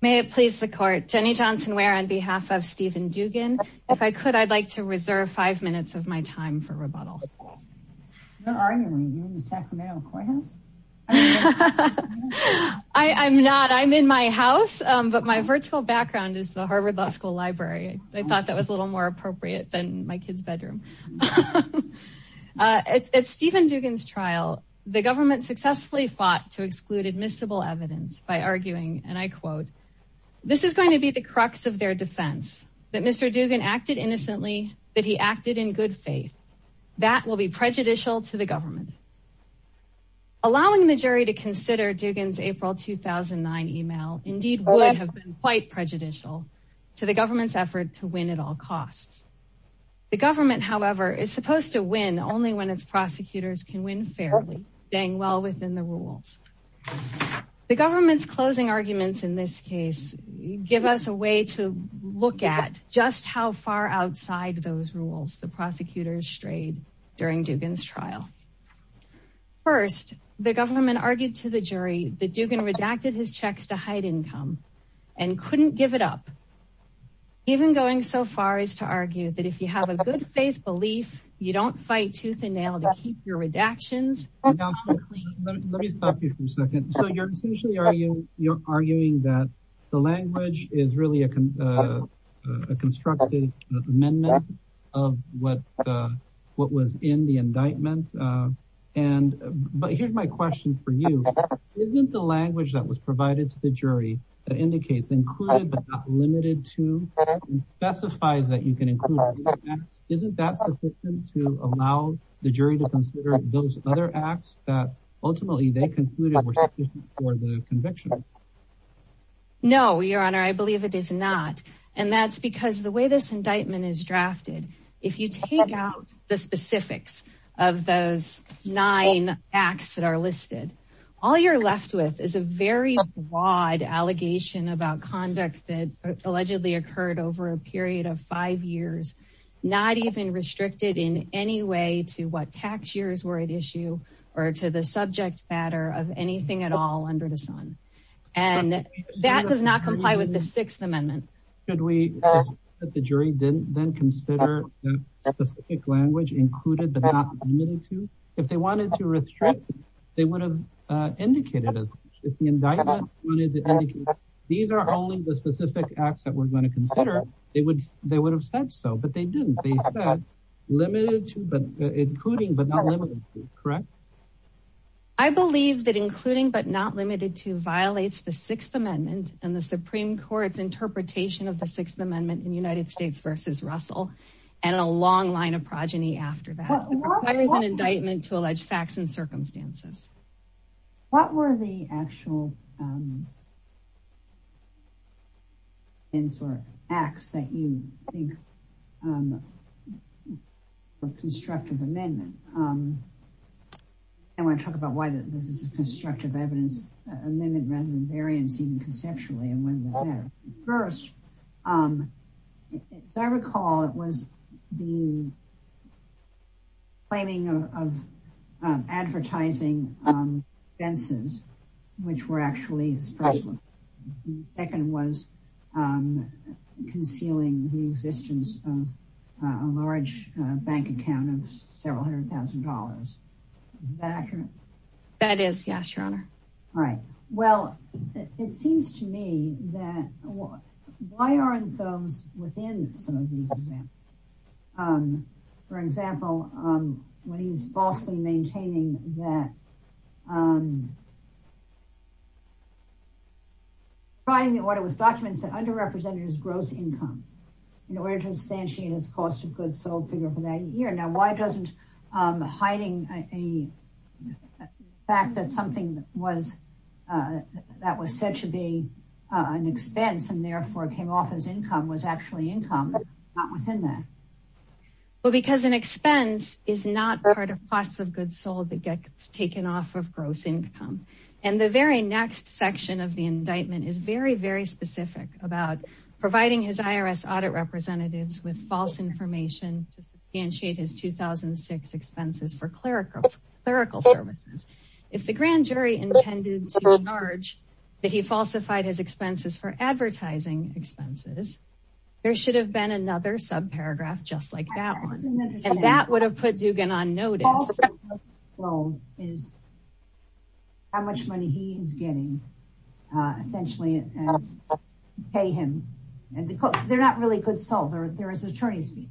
May it please the court. Jenny Johnson Ware on behalf of Stephen Dougan. If I could, I'd like to reserve five minutes of my time for rebuttal. Are you in the Sacramento courthouse? I'm not I'm in my house, but my virtual background is the Harvard Law School library. I thought that was a little more appropriate than my kid's bedroom. At Stephen Dugan's trial, the government successfully fought to exclude admissible evidence by arguing, and I quote, This is going to be the crux of their defense that Mr. Dugan acted innocently that he acted in good faith. That will be prejudicial to the government. Allowing the jury to consider Dugan's April 2009 email indeed would have been quite prejudicial to the government's effort to win at all costs. The government, however, is supposed to win only when it's prosecutors can win fairly dang well within the rules. The government's closing arguments in this case, give us a way to look at just how far outside those rules the prosecutors strayed during Dugan's trial. First, the government argued to the jury that Dugan redacted his checks to hide income and couldn't give it up. Even going so far as to argue that if you have a good faith belief, you don't fight tooth and nail to keep your redactions. Let me stop you for a second. So you're essentially are you, you're arguing that the language is really a constructive amendment of what what was in the indictment. But here's my question for you. Isn't the language that was provided to the jury indicates included but not limited to specifies that you can include. Isn't that sufficient to allow the jury to consider those other acts that ultimately they concluded were sufficient for the conviction. No, Your Honor, I believe it is not. And that's because the way this indictment is drafted. If you take out the specifics of those nine acts that are listed, all you're left with is a very wide allegation about conduct that allegedly occurred over a period of five years. Not even restricted in any way to what tax years were at issue or to the subject matter of anything at all under the sun. And that does not comply with the Sixth Amendment. I believe that including but not limited to violates the Sixth Amendment and the Supreme Court's interpretation of the Sixth Amendment. And a long line of progeny after that is an indictment to allege facts and circumstances. What were the actual And sort of acts that you think of constructive amendment. I want to talk about why this is a constructive evidence amendment rather than variance even conceptually. First, as I recall, it was the claiming of advertising fences, which were actually the second was concealing the existence of a large bank account of several hundred thousand dollars. That is, yes, your honor. All right. Well, it seems to me that why aren't those within some of these examples, for example, when he's falsely maintaining that. But I mean, what it was documents that underrepresented his gross income in order to substantiate his cost of goods sold figure for that year. Now, why doesn't hiding a fact that something was that was said to be an expense and therefore came off as income was actually income within that. Well, because an expense is not part of cost of goods sold that gets taken off of gross income. And the very next section of the indictment is very, very specific about providing his IRS audit representatives with false information to substantiate his 2006 expenses for clerical services. If the grand jury intended to charge that he falsified his expenses for advertising expenses, there should have been another subparagraph just like that. And that would have put Dugan on notice. Well, is. How much money he is getting essentially as pay him. And they're not really good. So there is attorney's fees.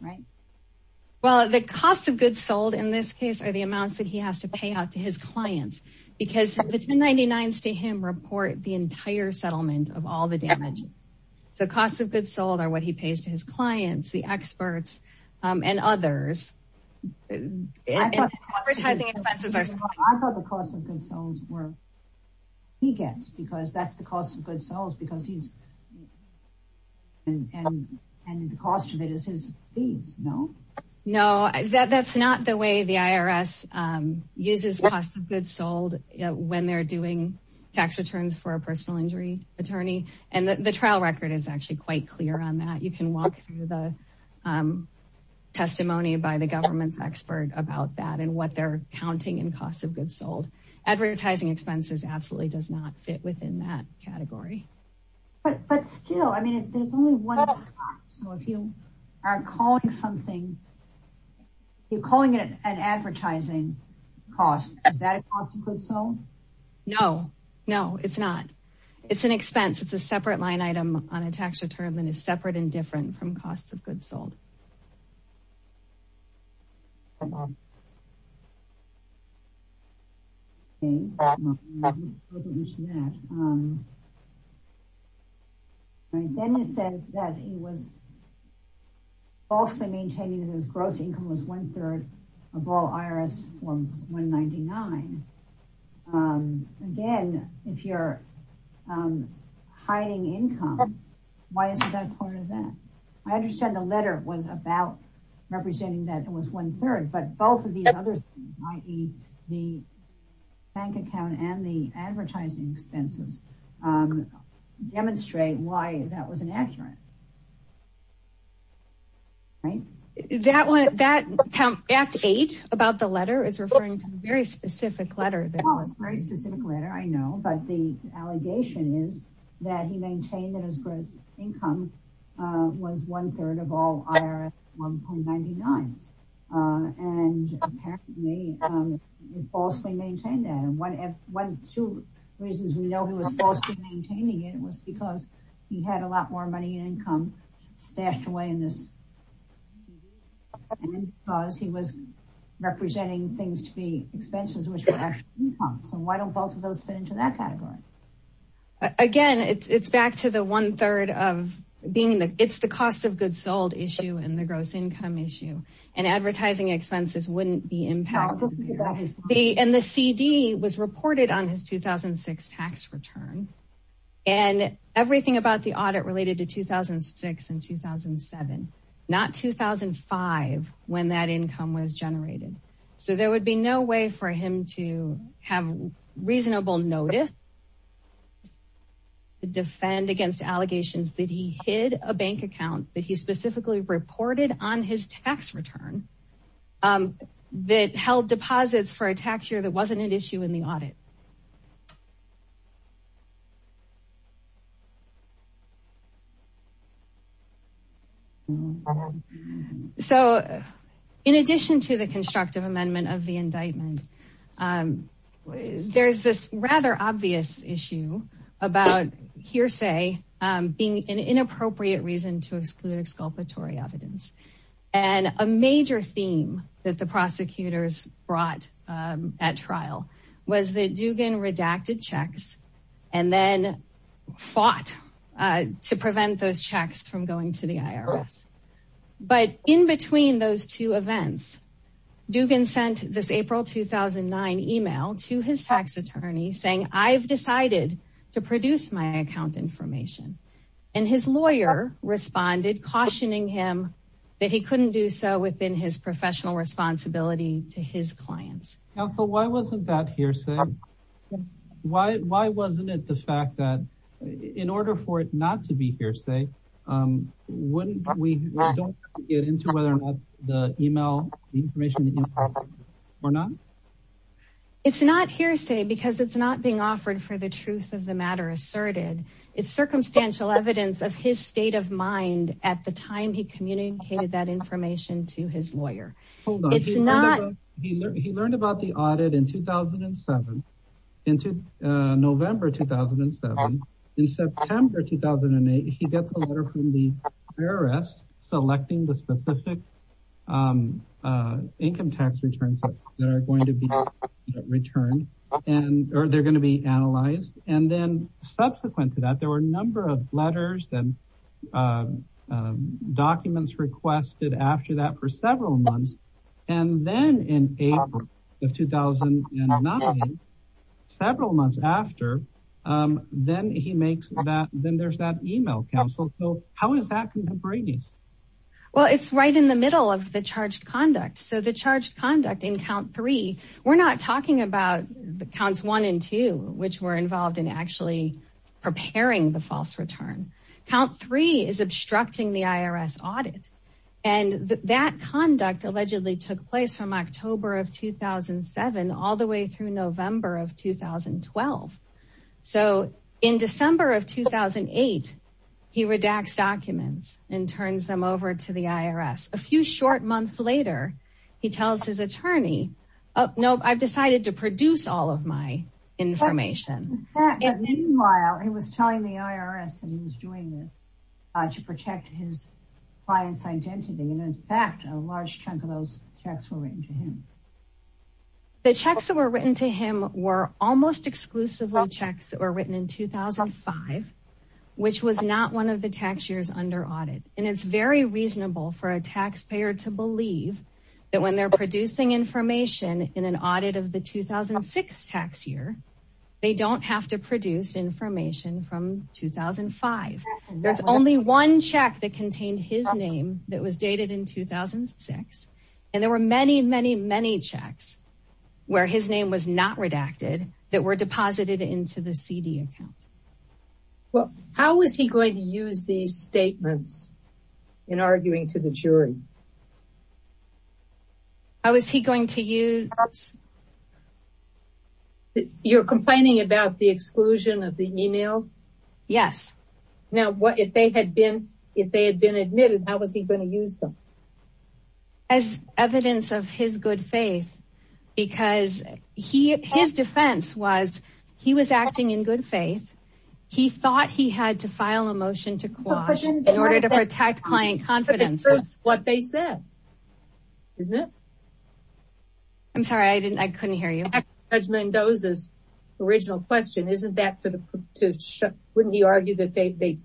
Right. Well, the cost of goods sold in this case are the amounts that he has to pay out to his clients because the 99 stay him report the entire settlement of all the damage. So cost of goods sold are what he pays to his clients, the experts and others. Advertising expenses are. I thought the cost of goods sold were. He gets because that's the cost of goods sold because he's. And the cost of it is his fees. No, no, that's not the way the IRS uses cost of goods sold when they're doing tax returns for a personal injury attorney. And the trial record is actually quite clear on that. You can walk through the testimony by the government's expert about that and what they're counting in cost of goods sold. Advertising expenses absolutely does not fit within that category. But still, I mean, if there's only one. So if you are calling something. You're calling it an advertising cost. Is that a cost of goods sold? No, no, it's not. It's an expense. It's a separate line item on a tax return that is separate and different from cost of goods sold. And. Then he says that he was. Also maintaining his gross income was one third of all IRS 199. Again, if you're hiding income. Why is that part of that? I understand the letter was about representing that it was one third. But both of these others, i.e. the bank account and the advertising expenses demonstrate why that was inaccurate. Right. That one, that act eight about the letter is referring to a very specific letter. That was very specific letter. I know. But the allegation is that he maintained that his gross income was one third of all IRS one point ninety nine. And he falsely maintained that. And one of two reasons we know he was falsely maintaining it was because he had a lot more money in income stashed away in this. Because he was representing things to be expenses, which were actually income. So why don't both of those fit into that category? Again, it's back to the one third of being that it's the cost of goods sold issue and the gross income issue and advertising expenses wouldn't be impacted. And the CD was reported on his 2006 tax return. And everything about the audit related to 2006 and 2007, not 2005 when that income was generated. So there would be no way for him to have reasonable notice. Defend against allegations that he hid a bank account that he specifically reported on his tax return that held deposits for a tax year that wasn't an issue in the audit. So in addition to the constructive amendment of the indictment, there's this rather obvious issue about hearsay being an inappropriate reason to exclude exculpatory evidence. And a major theme that the prosecutors brought at trial was that Dugan redacted checks and then fought to prevent those checks from going to the IRS. But in between those two events, Dugan sent this April 2009 email to his tax attorney saying, I've decided to produce my account information and his lawyer responded, cautioning him that he couldn't do so within his professional responsibility to his clients. Counsel, why wasn't that hearsay? Why, why wasn't it the fact that in order for it not to be hearsay, wouldn't we get into whether or not the email information or not? It's not hearsay because it's not being offered for the truth of the matter asserted. It's circumstantial evidence of his state of mind at the time he communicated that information to his lawyer. He learned about the audit in 2007, into November, 2007, in September, 2008, he gets a letter from the IRS selecting the specific income tax returns that are going to be returned and, or they're going to be analyzed. And then subsequent to that, there were a number of letters and documents requested after that for several months. And then in April of 2009, several months after, then he makes that, then there's that email counsel. So how is that contemporaneous? Well, it's right in the middle of the charged conduct. So the charged conduct in count three, we're not talking about the counts one and two, which were involved in actually preparing the false return. Count three is obstructing the IRS audit. And that conduct allegedly took place from October of 2007, all the way through November of 2012. So in December of 2008, he redacts documents and turns them over to the IRS. A few short months later, he tells his attorney, oh, no, I've decided to produce all of my information. Meanwhile, he was telling the IRS that he was doing this to protect his client's identity. And in fact, a large chunk of those checks were written to him. The checks that were written to him were almost exclusively checks that were written in 2005, which was not one of the tax years under audit. And it's very reasonable for a taxpayer to believe that when they're producing information in an audit of the 2006 tax year, they don't have to produce information from 2005. There's only one check that contained his name that was dated in 2006. And there were many, many, many checks where his name was not redacted that were deposited into the CD account. Well, how was he going to use these statements in arguing to the jury? How was he going to use? You're complaining about the exclusion of the emails? Yes. Now, what if they had been if they had been admitted, how was he going to use them? As evidence of his good faith, because he his defense was he was acting in good faith. He thought he had to file a motion to quash in order to protect client confidence. That's what they said. Isn't it? I'm sorry, I didn't I couldn't hear you. Judge Mendoza's original question. Isn't that for the wouldn't he argue that they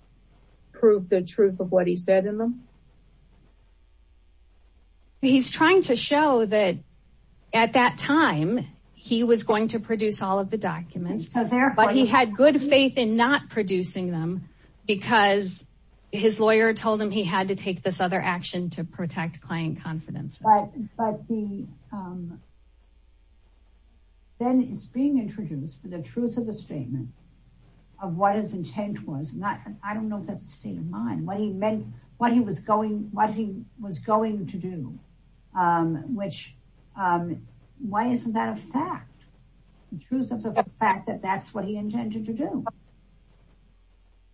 prove the truth of what he said in them? He's trying to show that at that time he was going to produce all of the documents. So therefore, he had good faith in not producing them because his lawyer told him he had to take this other action to protect client confidence. But then it's being introduced for the truth of the statement of what his intent was. And I don't know that state of mind, what he meant, what he was going, what he was going to do, which why isn't that a fact? The truth of the fact that that's what he intended to do.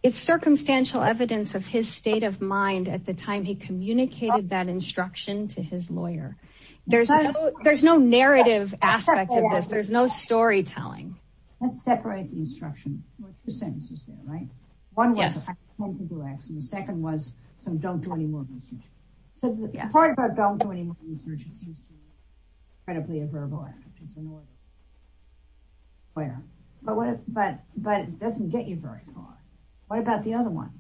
It's circumstantial evidence of his state of mind at the time he communicated that instruction to his lawyer. There's no there's no narrative aspect of this. There's no storytelling. Let's separate the instruction sentences. Right. One was the second was some don't do any more research. So the part about don't do any more research, it seems to be incredibly a verbal act. But but but it doesn't get you very far. What about the other one?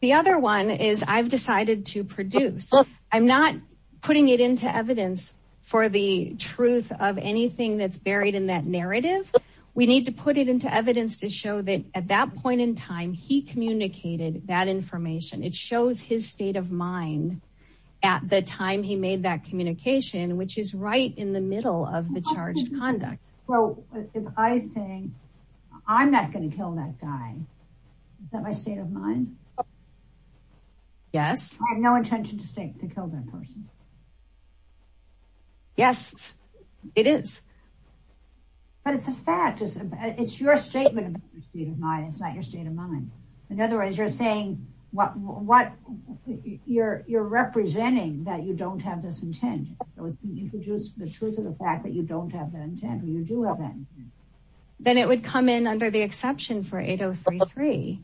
The other one is I've decided to produce. I'm not putting it into evidence for the truth of anything that's buried in that narrative. We need to put it into evidence to show that at that point in time, he communicated that information. It shows his state of mind at the time he made that communication, which is right in the middle of the charged conduct. So if I say I'm not going to kill that guy, is that my state of mind? Yes. I have no intention to kill that person. Yes, it is. But it's a fact. It's your statement of your state of mind. It's not your state of mind. In other words, you're saying what what you're you're representing, that you don't have this intent. So you could use the truth of the fact that you don't have that intent or you do have that. Then it would come in under the exception for 8033,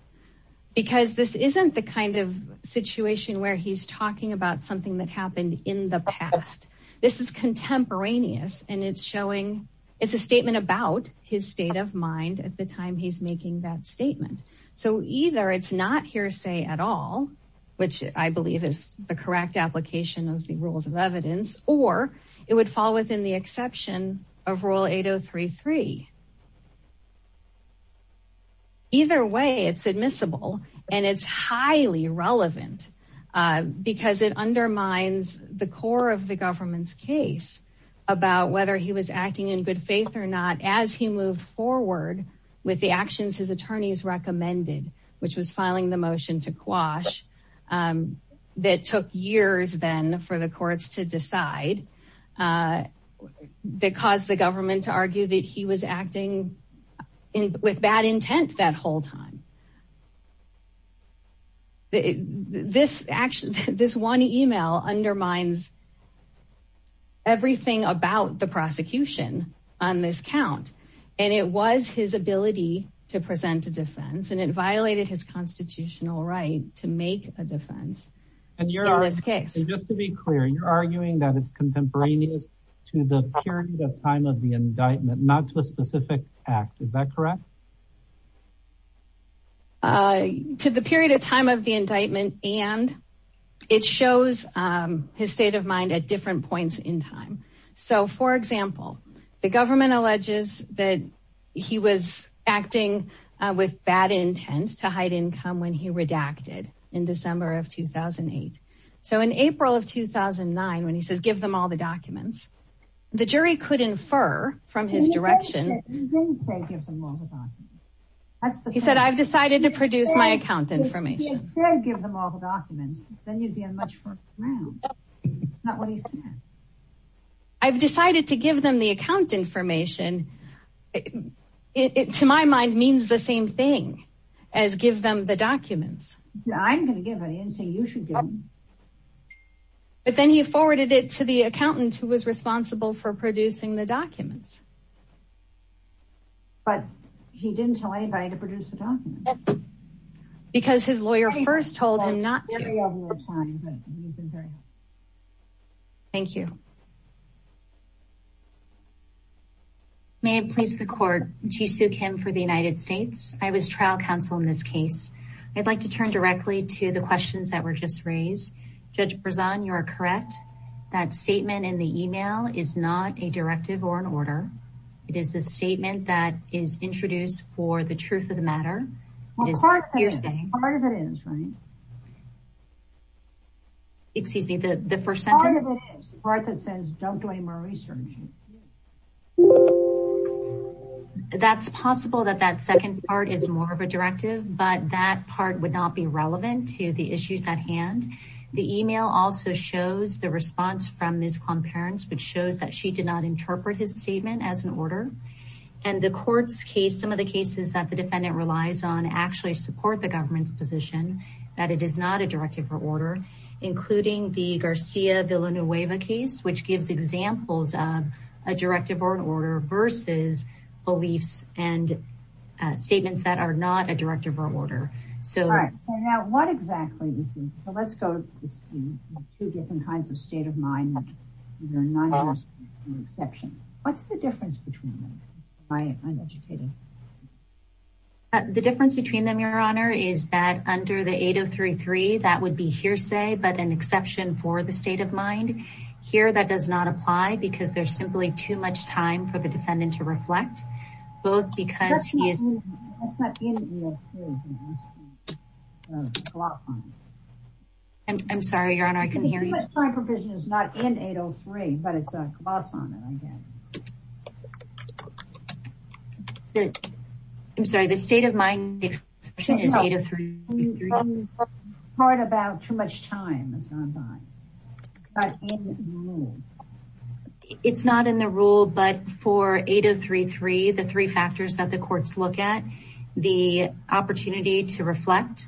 because this isn't the kind of situation where he's talking about something that happened in the past. This is contemporaneous. And it's showing it's a statement about his state of mind at the time he's making that statement. So either it's not hearsay at all, which I believe is the correct application of the rules of evidence, or it would fall within the exception of rule 8033. Either way, it's admissible and it's highly relevant because it undermines the core of the government's case about whether he was acting in good faith or not, as he moved forward with the actions his attorneys recommended, which was filing the motion to quash. That took years then for the courts to decide that caused the government to argue that he was acting with bad intent that whole time. This one email undermines everything about the prosecution on this count. And it was his ability to present a defense, and it violated his constitutional right to make a defense in this case. And just to be clear, you're arguing that it's contemporaneous to the period of time of the indictment, not to a specific act, is that correct? To the period of time of the indictment, and it shows his state of mind at different points in time. So, for example, the government alleges that he was acting with bad intent to hide income when he redacted in December of 2008. So in April of 2009, when he says, give them all the documents, the jury could infer from his direction. He said, I've decided to produce my account information. I've decided to give them the account information. It, to my mind, means the same thing as give them the documents. I'm going to give it in, so you should give them. But then he forwarded it to the accountant who was responsible for producing the documents. But he didn't tell anybody to produce the documents. Because his lawyer first told him not to. Thank you. May it please the court. Jisoo Kim for the United States. I was trial counsel in this case. I'd like to turn directly to the questions that were just raised. Judge Berzon, you are correct. That statement in the email is not a directive or an order. It is the statement that is introduced for the truth of the matter. Well, part of it is, right? Excuse me, the first sentence. Part of it is. Part that says don't do any more research. That's possible that that second part is more of a directive. But that part would not be relevant to the issues at hand. The email also shows the response from Ms. Klum parents, which shows that she did not interpret his statement as an order. And the court's case, some of the cases that the defendant relies on actually support the government's position. That it is not a directive or order. Including the Garcia Villanueva case, which gives examples of a directive or an order versus beliefs and statements that are not a directive or order. So what exactly? So let's go to this. Two different kinds of state of mind. What's the difference between them? The difference between them, your honor, is that under the 8033, that would be hearsay, but an exception for the state of mind here. That does not apply because there's simply too much time for the defendant to reflect both because he is. I'm sorry, your honor. I can hear you. My provision is not in 803, but it's a loss on it. I'm sorry. The state of mind. Part about too much time. It's not in the rule, but for 8033, the three factors that the courts look at the opportunity to reflect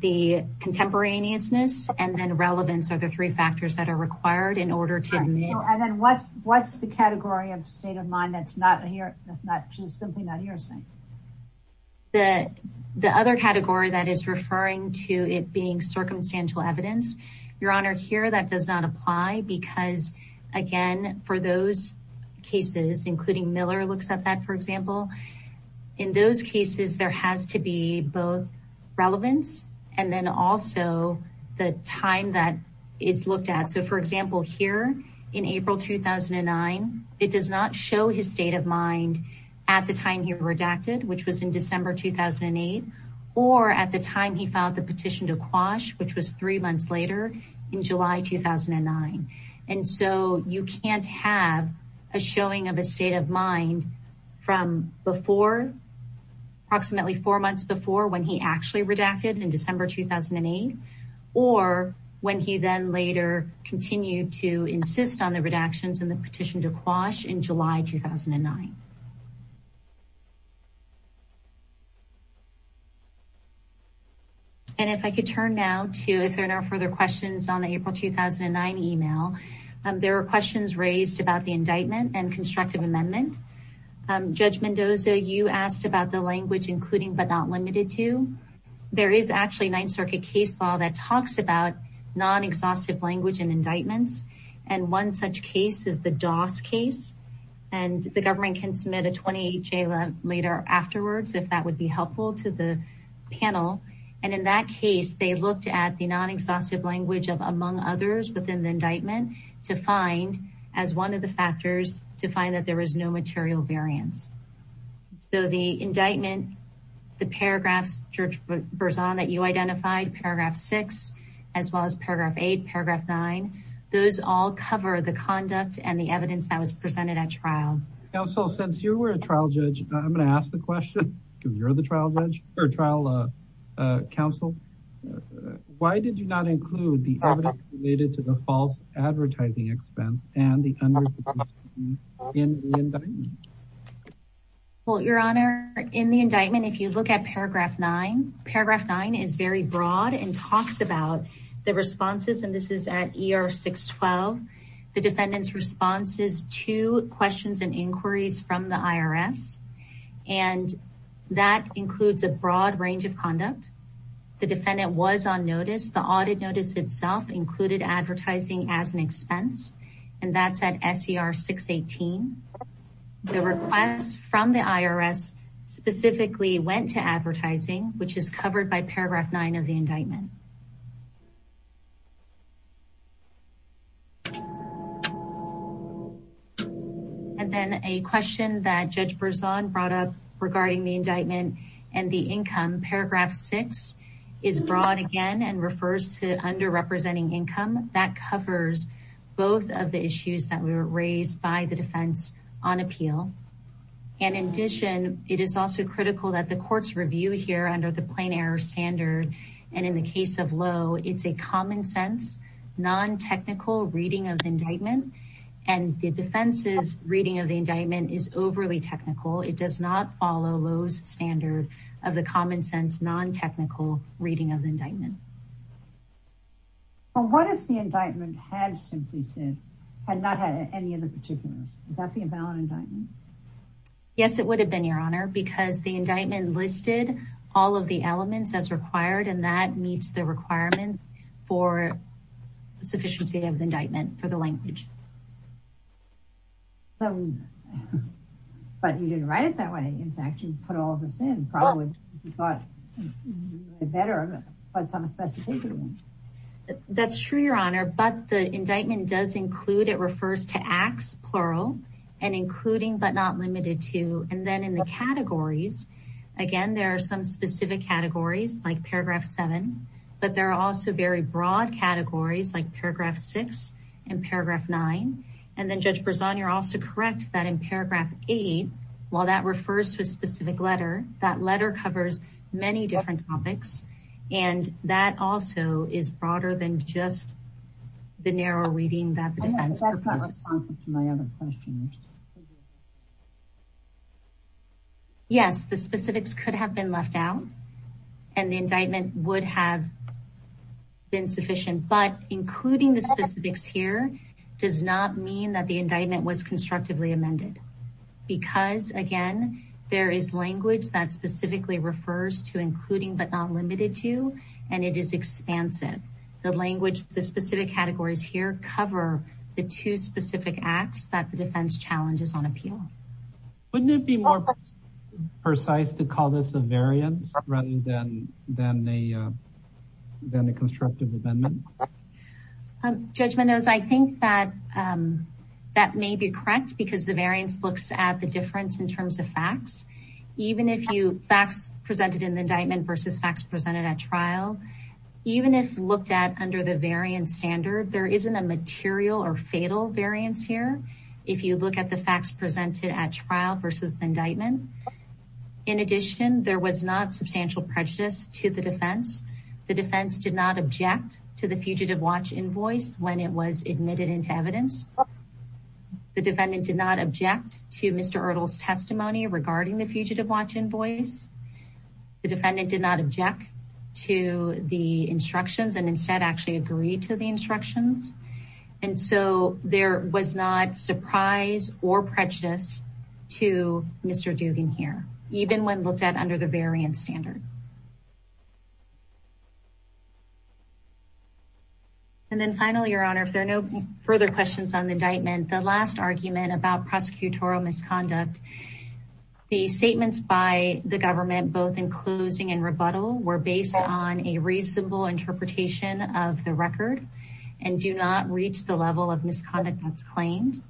the contemporaneousness and then relevance are the three factors that are required in order to. What's the category of state of mind? That's not here. That's not just something that hearsay. The other category that is referring to it being circumstantial evidence, your honor, here, that does not apply because, again, for those cases, including Miller looks at that, for example. In those cases, there has to be both relevance and then also the time that is looked at. So, for example, here in April 2009, it does not show his state of mind at the time he redacted, which was in December 2008 or at the time he found the petition to quash, which was three months later in July 2009. And so you can't have a showing of a state of mind from before. Approximately four months before when he actually redacted in December 2008 or when he then later continued to insist on the redactions and the petition to quash in July 2009. And if I could turn now to if there are no further questions on the April 2009 email, there are questions raised about the indictment and constructive amendment. Judge Mendoza, you asked about the language, including but not limited to. There is actually Ninth Circuit case law that talks about non exhaustive language and indictments. And one such case is the Doss case. And the government can submit a 28 J later afterwards, if that would be helpful to the panel. And in that case, they looked at the non exhaustive language of among others within the indictment to find as one of the factors to find that there was no material variance. So the indictment, the paragraphs, George Burzon, that you identified, paragraph six, as well as paragraph eight, paragraph nine. Those all cover the conduct and the evidence that was presented at trial. So since you were a trial judge, I'm going to ask the question. You're the trial judge or trial counsel. Why did you not include the evidence related to the false advertising expense and the. In the indictment. Well, Your Honor, in the indictment, if you look at paragraph nine, paragraph nine is very broad and talks about the responses, and this is at ER 612. The defendant's responses to questions and inquiries from the IRS. And that includes a broad range of conduct. The defendant was on notice. The audit notice itself included advertising as an expense. And that's at SCR 618. The request from the IRS specifically went to advertising, which is covered by paragraph nine of the indictment. And then a question that Judge Burzon brought up regarding the indictment and the income. Paragraph six is broad again and refers to underrepresenting income that covers both of the issues that were raised by the defense on appeal. And in addition, it is also critical that the courts review here under the plain error standard. And in the case of Lowe, it's a common sense, non-technical reading of the indictment. And the defense's reading of the indictment is overly technical. It does not follow Lowe's standard of the common sense, non-technical reading of the indictment. But what if the indictment had simply said, had not had any of the particulars? Would that be a valid indictment? Yes, it would have been, Your Honor, because the indictment listed all of the elements as required. And that meets the requirement for sufficiency of indictment for the language. But you didn't write it that way. In fact, you put all of this in. That's true, Your Honor. But the indictment does include, it refers to acts, plural, and including but not limited to. And then in the categories, again, there are some specific categories like paragraph seven. But there are also very broad categories like paragraph six and paragraph nine. And then Judge Berzon, you're also correct that in paragraph eight, while that refers to a specific letter, that letter covers many different topics. And that also is broader than just the narrow reading that the defense proposed. Yes, the specifics could have been left out. And the indictment would have been sufficient. But including the specifics here does not mean that the indictment was constructively amended. Because, again, there is language that specifically refers to including but not limited to, and it is expansive. The language, the specific categories here cover the two specific acts that the defense challenges on appeal. Wouldn't it be more precise to call this a variance rather than a constructive amendment? Judge Mendoza, I think that that may be correct because the variance looks at the difference in terms of facts. Even if facts presented in the indictment versus facts presented at trial, even if looked at under the variance standard, there isn't a material or fatal variance here. If you look at the facts presented at trial versus the indictment. In addition, there was not substantial prejudice to the defense. The defense did not object to the Fugitive Watch invoice when it was admitted into evidence. The defendant did not object to Mr. Erdl's testimony regarding the Fugitive Watch invoice. The defendant did not object to the instructions and instead actually agreed to the instructions. And so there was not surprise or prejudice to Mr. Dugan here, even when looked at under the variance standard. And then finally, Your Honor, if there are no further questions on the indictment, the last argument about prosecutorial misconduct. The statements by the government, both in closing and rebuttal, were based on a reasonable interpretation of the record and do not reach the level of misconduct that's claimed.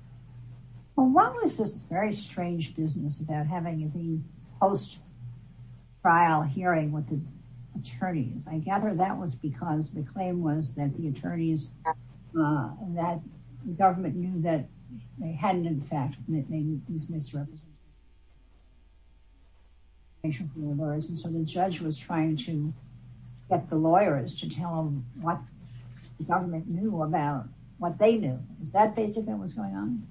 Well, what was this very strange business about having the post-trial hearing with the attorneys? I gather that was because the claim was that the attorneys, that the government knew that they hadn't in fact made these misrepresentations. And so the judge was trying to get the lawyers to tell them what the government knew about what they knew. Is that basically what was going on?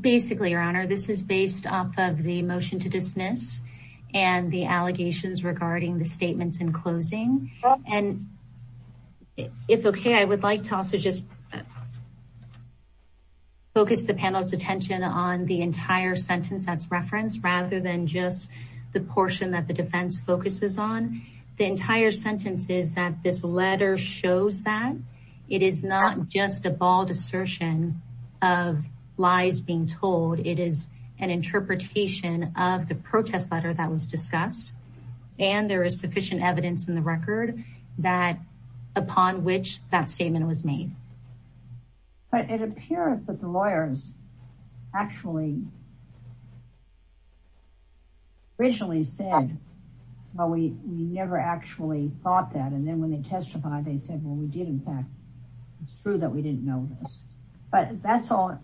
Basically, Your Honor, this is based off of the motion to dismiss and the allegations regarding the statements in closing. And if okay, I would like to also just focus the panel's attention on the entire sentence that's referenced rather than just the portion that the defense focuses on. The entire sentence is that this letter shows that it is not just a bald assertion of lies being told. It is an interpretation of the protest letter that was discussed. And there is sufficient evidence in the record that upon which that statement was made. But it appears that the lawyers actually originally said, well, we never actually thought that. And then when they testified, they said, well, we did. In fact, it's true that we didn't know this. But that's all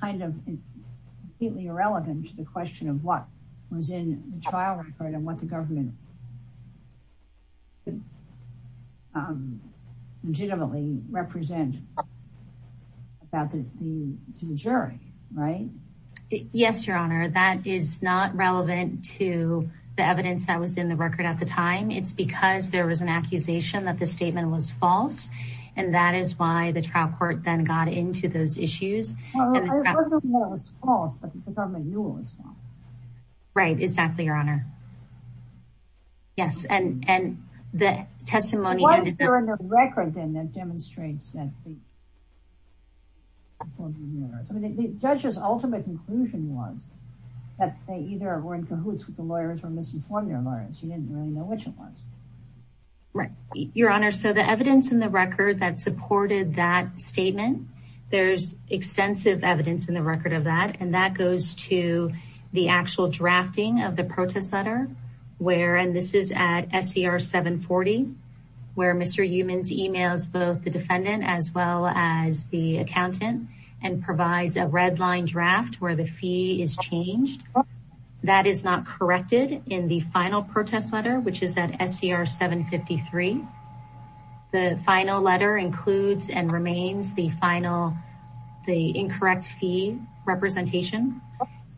kind of completely irrelevant to the question of what was in the trial record and what the government legitimately represent to the jury. Right? Yes, Your Honor, that is not relevant to the evidence that was in the record at the time. It's because there was an accusation that the statement was false. And that is why the trial court then got into those issues. It wasn't that it was false, but the government knew it was false. Right. Exactly, Your Honor. Yes. And the testimony. What is there in the record then that demonstrates that the judge's ultimate conclusion was that they either were in cahoots with the lawyers or misinformed their lawyers. You didn't really know which it was. Right, Your Honor. So the evidence in the record that supported that statement, there's extensive evidence in the record of that. And that goes to the actual drafting of the protest letter. And this is at SCR 740, where Mr. Humans emails both the defendant as well as the accountant and provides a red line draft where the fee is changed. That is not corrected in the final protest letter, which is at SCR 753. The final letter includes and remains the final, the incorrect fee representation.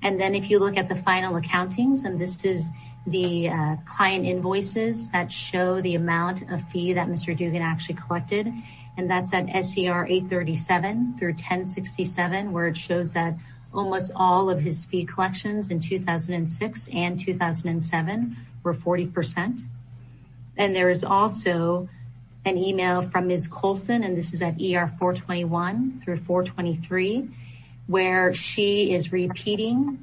And then if you look at the final accountings, and this is the client invoices that show the amount of fee that Mr. Dugan actually collected. And that's at SCR 837 through 1067, where it shows that almost all of his fee collections in 2006 and 2007 were 40%. And there is also an email from Ms. Colson, and this is at ER 421 through 423, where she is repeating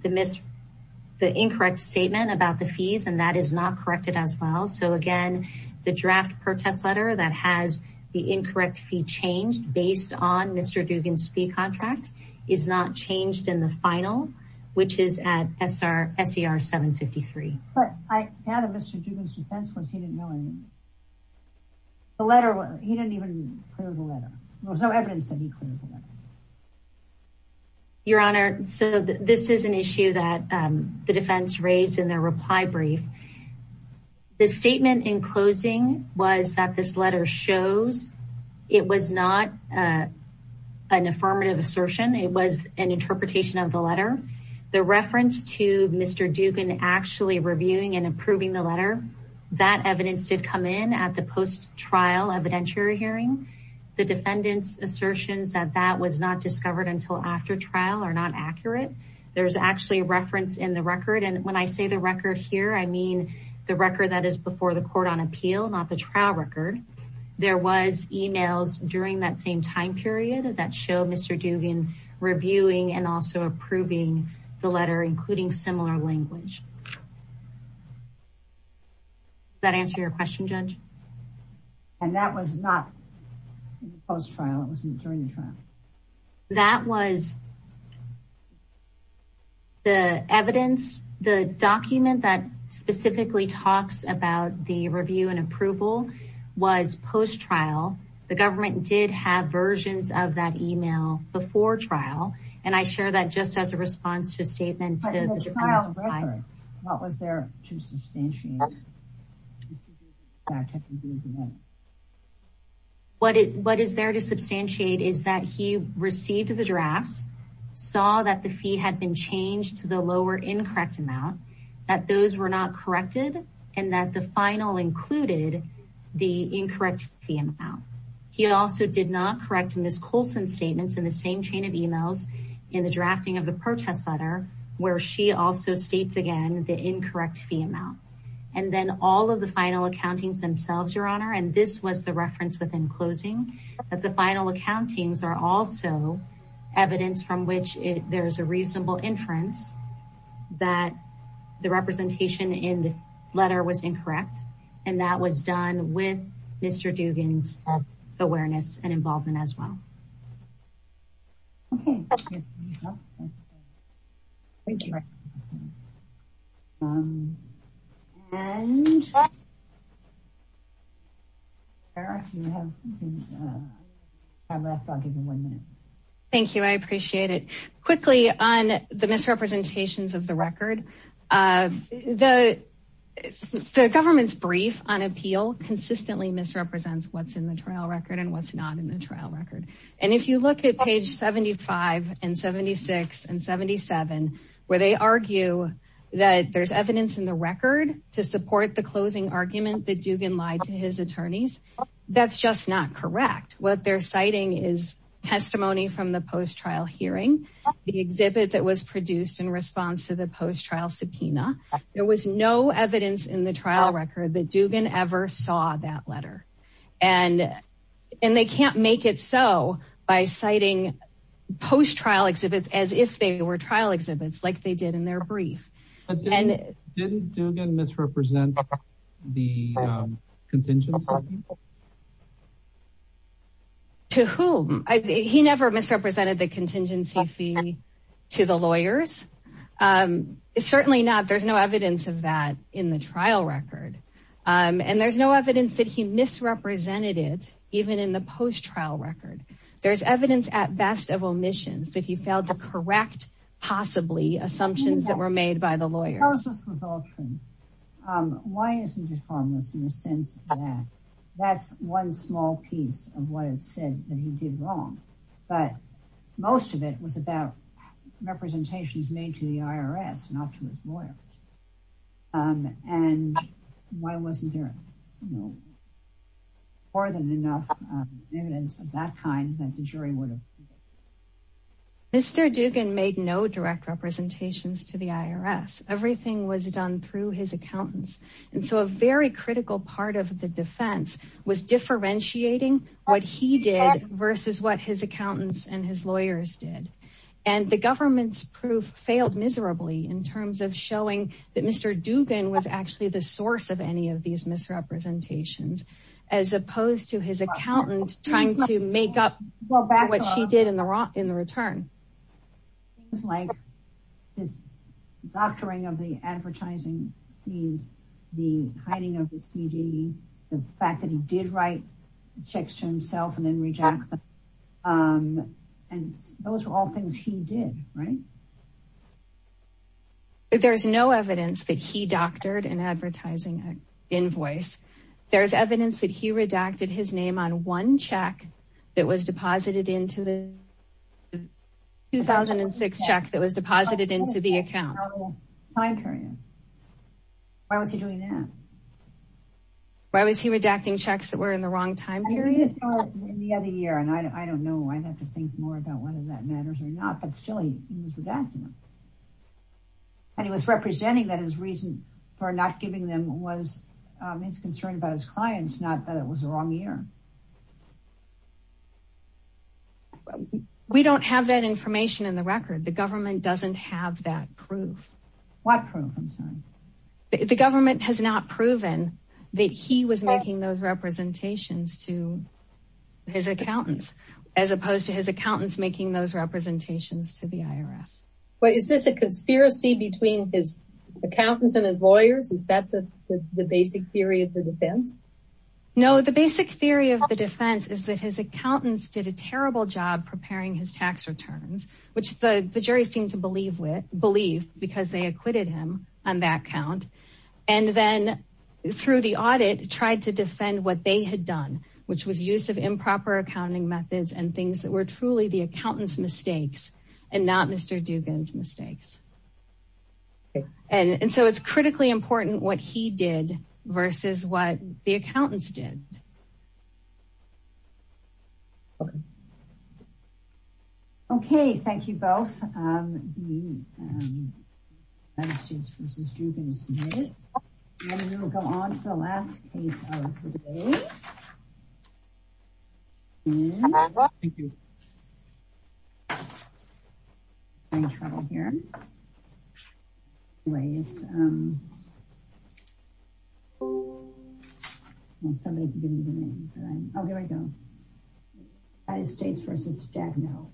the incorrect statement about the fees, and that is not corrected as well. So again, the draft protest letter that has the incorrect fee changed based on Mr. Dugan's fee contract is not changed in the final, which is at SCR 753. But I added Mr. Dugan's defense was he didn't know anything. The letter, he didn't even clear the letter. There was no evidence that he cleared the letter. Your Honor, so this is an issue that the defense raised in their reply brief. The statement in closing was that this letter shows it was not an affirmative assertion. It was an interpretation of the letter. The reference to Mr. Dugan actually reviewing and approving the letter, that evidence did come in at the post-trial evidentiary hearing. The defendant's assertions that that was not discovered until after trial are not accurate. There's actually a reference in the record, and when I say the record here, I mean the record that is before the court on appeal, not the trial record. There was emails during that same time period that show Mr. Dugan reviewing and also approving the letter, including similar language. Does that answer your question, Judge? And that was not post-trial, it was during the trial. That was the evidence, the document that specifically talks about the review and approval was post-trial. The government did have versions of that email before trial, and I share that just as a response to a statement. What was there to substantiate? What is there to substantiate is that he received the drafts, saw that the fee had been changed to the lower incorrect amount, that those were not corrected, and that the final included the incorrect fee amount. He also did not correct Ms. Colson's statements in the same chain of emails in the drafting of the protest letter, where she also states again the incorrect fee amount. And then all of the final accountings themselves, Your Honor, and this was the reference within closing, that the final accountings are also evidence from which there is a reasonable inference that the representation in the letter was incorrect, and that was done with Mr. Dugan's awareness and involvement as well. Okay. Thank you. Thank you. Thank you, I appreciate it. Quickly, on the misrepresentations of the record, the government's brief on appeal consistently misrepresents what's in the trial record and what's not in the trial record. And if you look at page 75 and 76 and 77, where they argue that there's evidence in the record to support the closing argument that Dugan lied to his attorneys, that's just not correct. What they're citing is testimony from the post-trial hearing, the exhibit that was produced in response to the post-trial subpoena. There was no evidence in the trial record that Dugan ever saw that letter. And they can't make it so by citing post-trial exhibits as if they were trial exhibits, like they did in their brief. Didn't Dugan misrepresent the contingency? To whom? He never misrepresented the contingency fee to the lawyers. Certainly not. There's no evidence of that in the trial record. And there's no evidence that he misrepresented it, even in the post-trial record. There's evidence, at best, of omissions, that he failed to correct, possibly, assumptions that were made by the lawyers. Why isn't this harmless in the sense that that's one small piece of what it said that he did wrong? But most of it was about representations made to the IRS, not to his lawyers. And why wasn't there more than enough evidence of that kind that the jury would have? Mr. Dugan made no direct representations to the IRS. Everything was done through his accountants. And so a very critical part of the defense was differentiating what he did versus what his accountants and his lawyers did. And the government's proof failed miserably in terms of showing that Mr. Dugan was actually the source of any of these misrepresentations, as opposed to his accountant trying to make up for what she did in the return. Things like his doctoring of the advertising means, the hiding of the CD, the fact that he did write checks to himself and then reject them. And those were all things he did, right? There's no evidence that he doctored an advertising invoice. There's evidence that he redacted his name on one check that was deposited into the 2006 check that was deposited into the account. Why was he doing that? Why was he redacting checks that were in the wrong time period? In the other year, and I don't know, I'd have to think more about whether that matters or not, but still he was redacting them. And he was representing that his reason for not giving them was his concern about his clients, not that it was the wrong year. We don't have that information in the record. The government doesn't have that proof. What proof, I'm sorry? The government has not proven that he was making those representations to his accountants, as opposed to his accountants making those representations to the IRS. But is this a conspiracy between his accountants and his lawyers? Is that the basic theory of the defense? No, the basic theory of the defense is that his accountants did a terrible job preparing his tax returns, which the jury seemed to believe because they acquitted him on that count. And then through the audit, tried to defend what they had done, which was use of improper accounting methods and things that were truly the accountant's mistakes and not Mr. Dugan's mistakes. And so it's critically important what he did versus what the accountants did. Okay. Okay, thank you both. We'll go on to the last case of the day. Trouble here. Waves. Somebody give me the name. Oh, here we go. United States versus Jack now.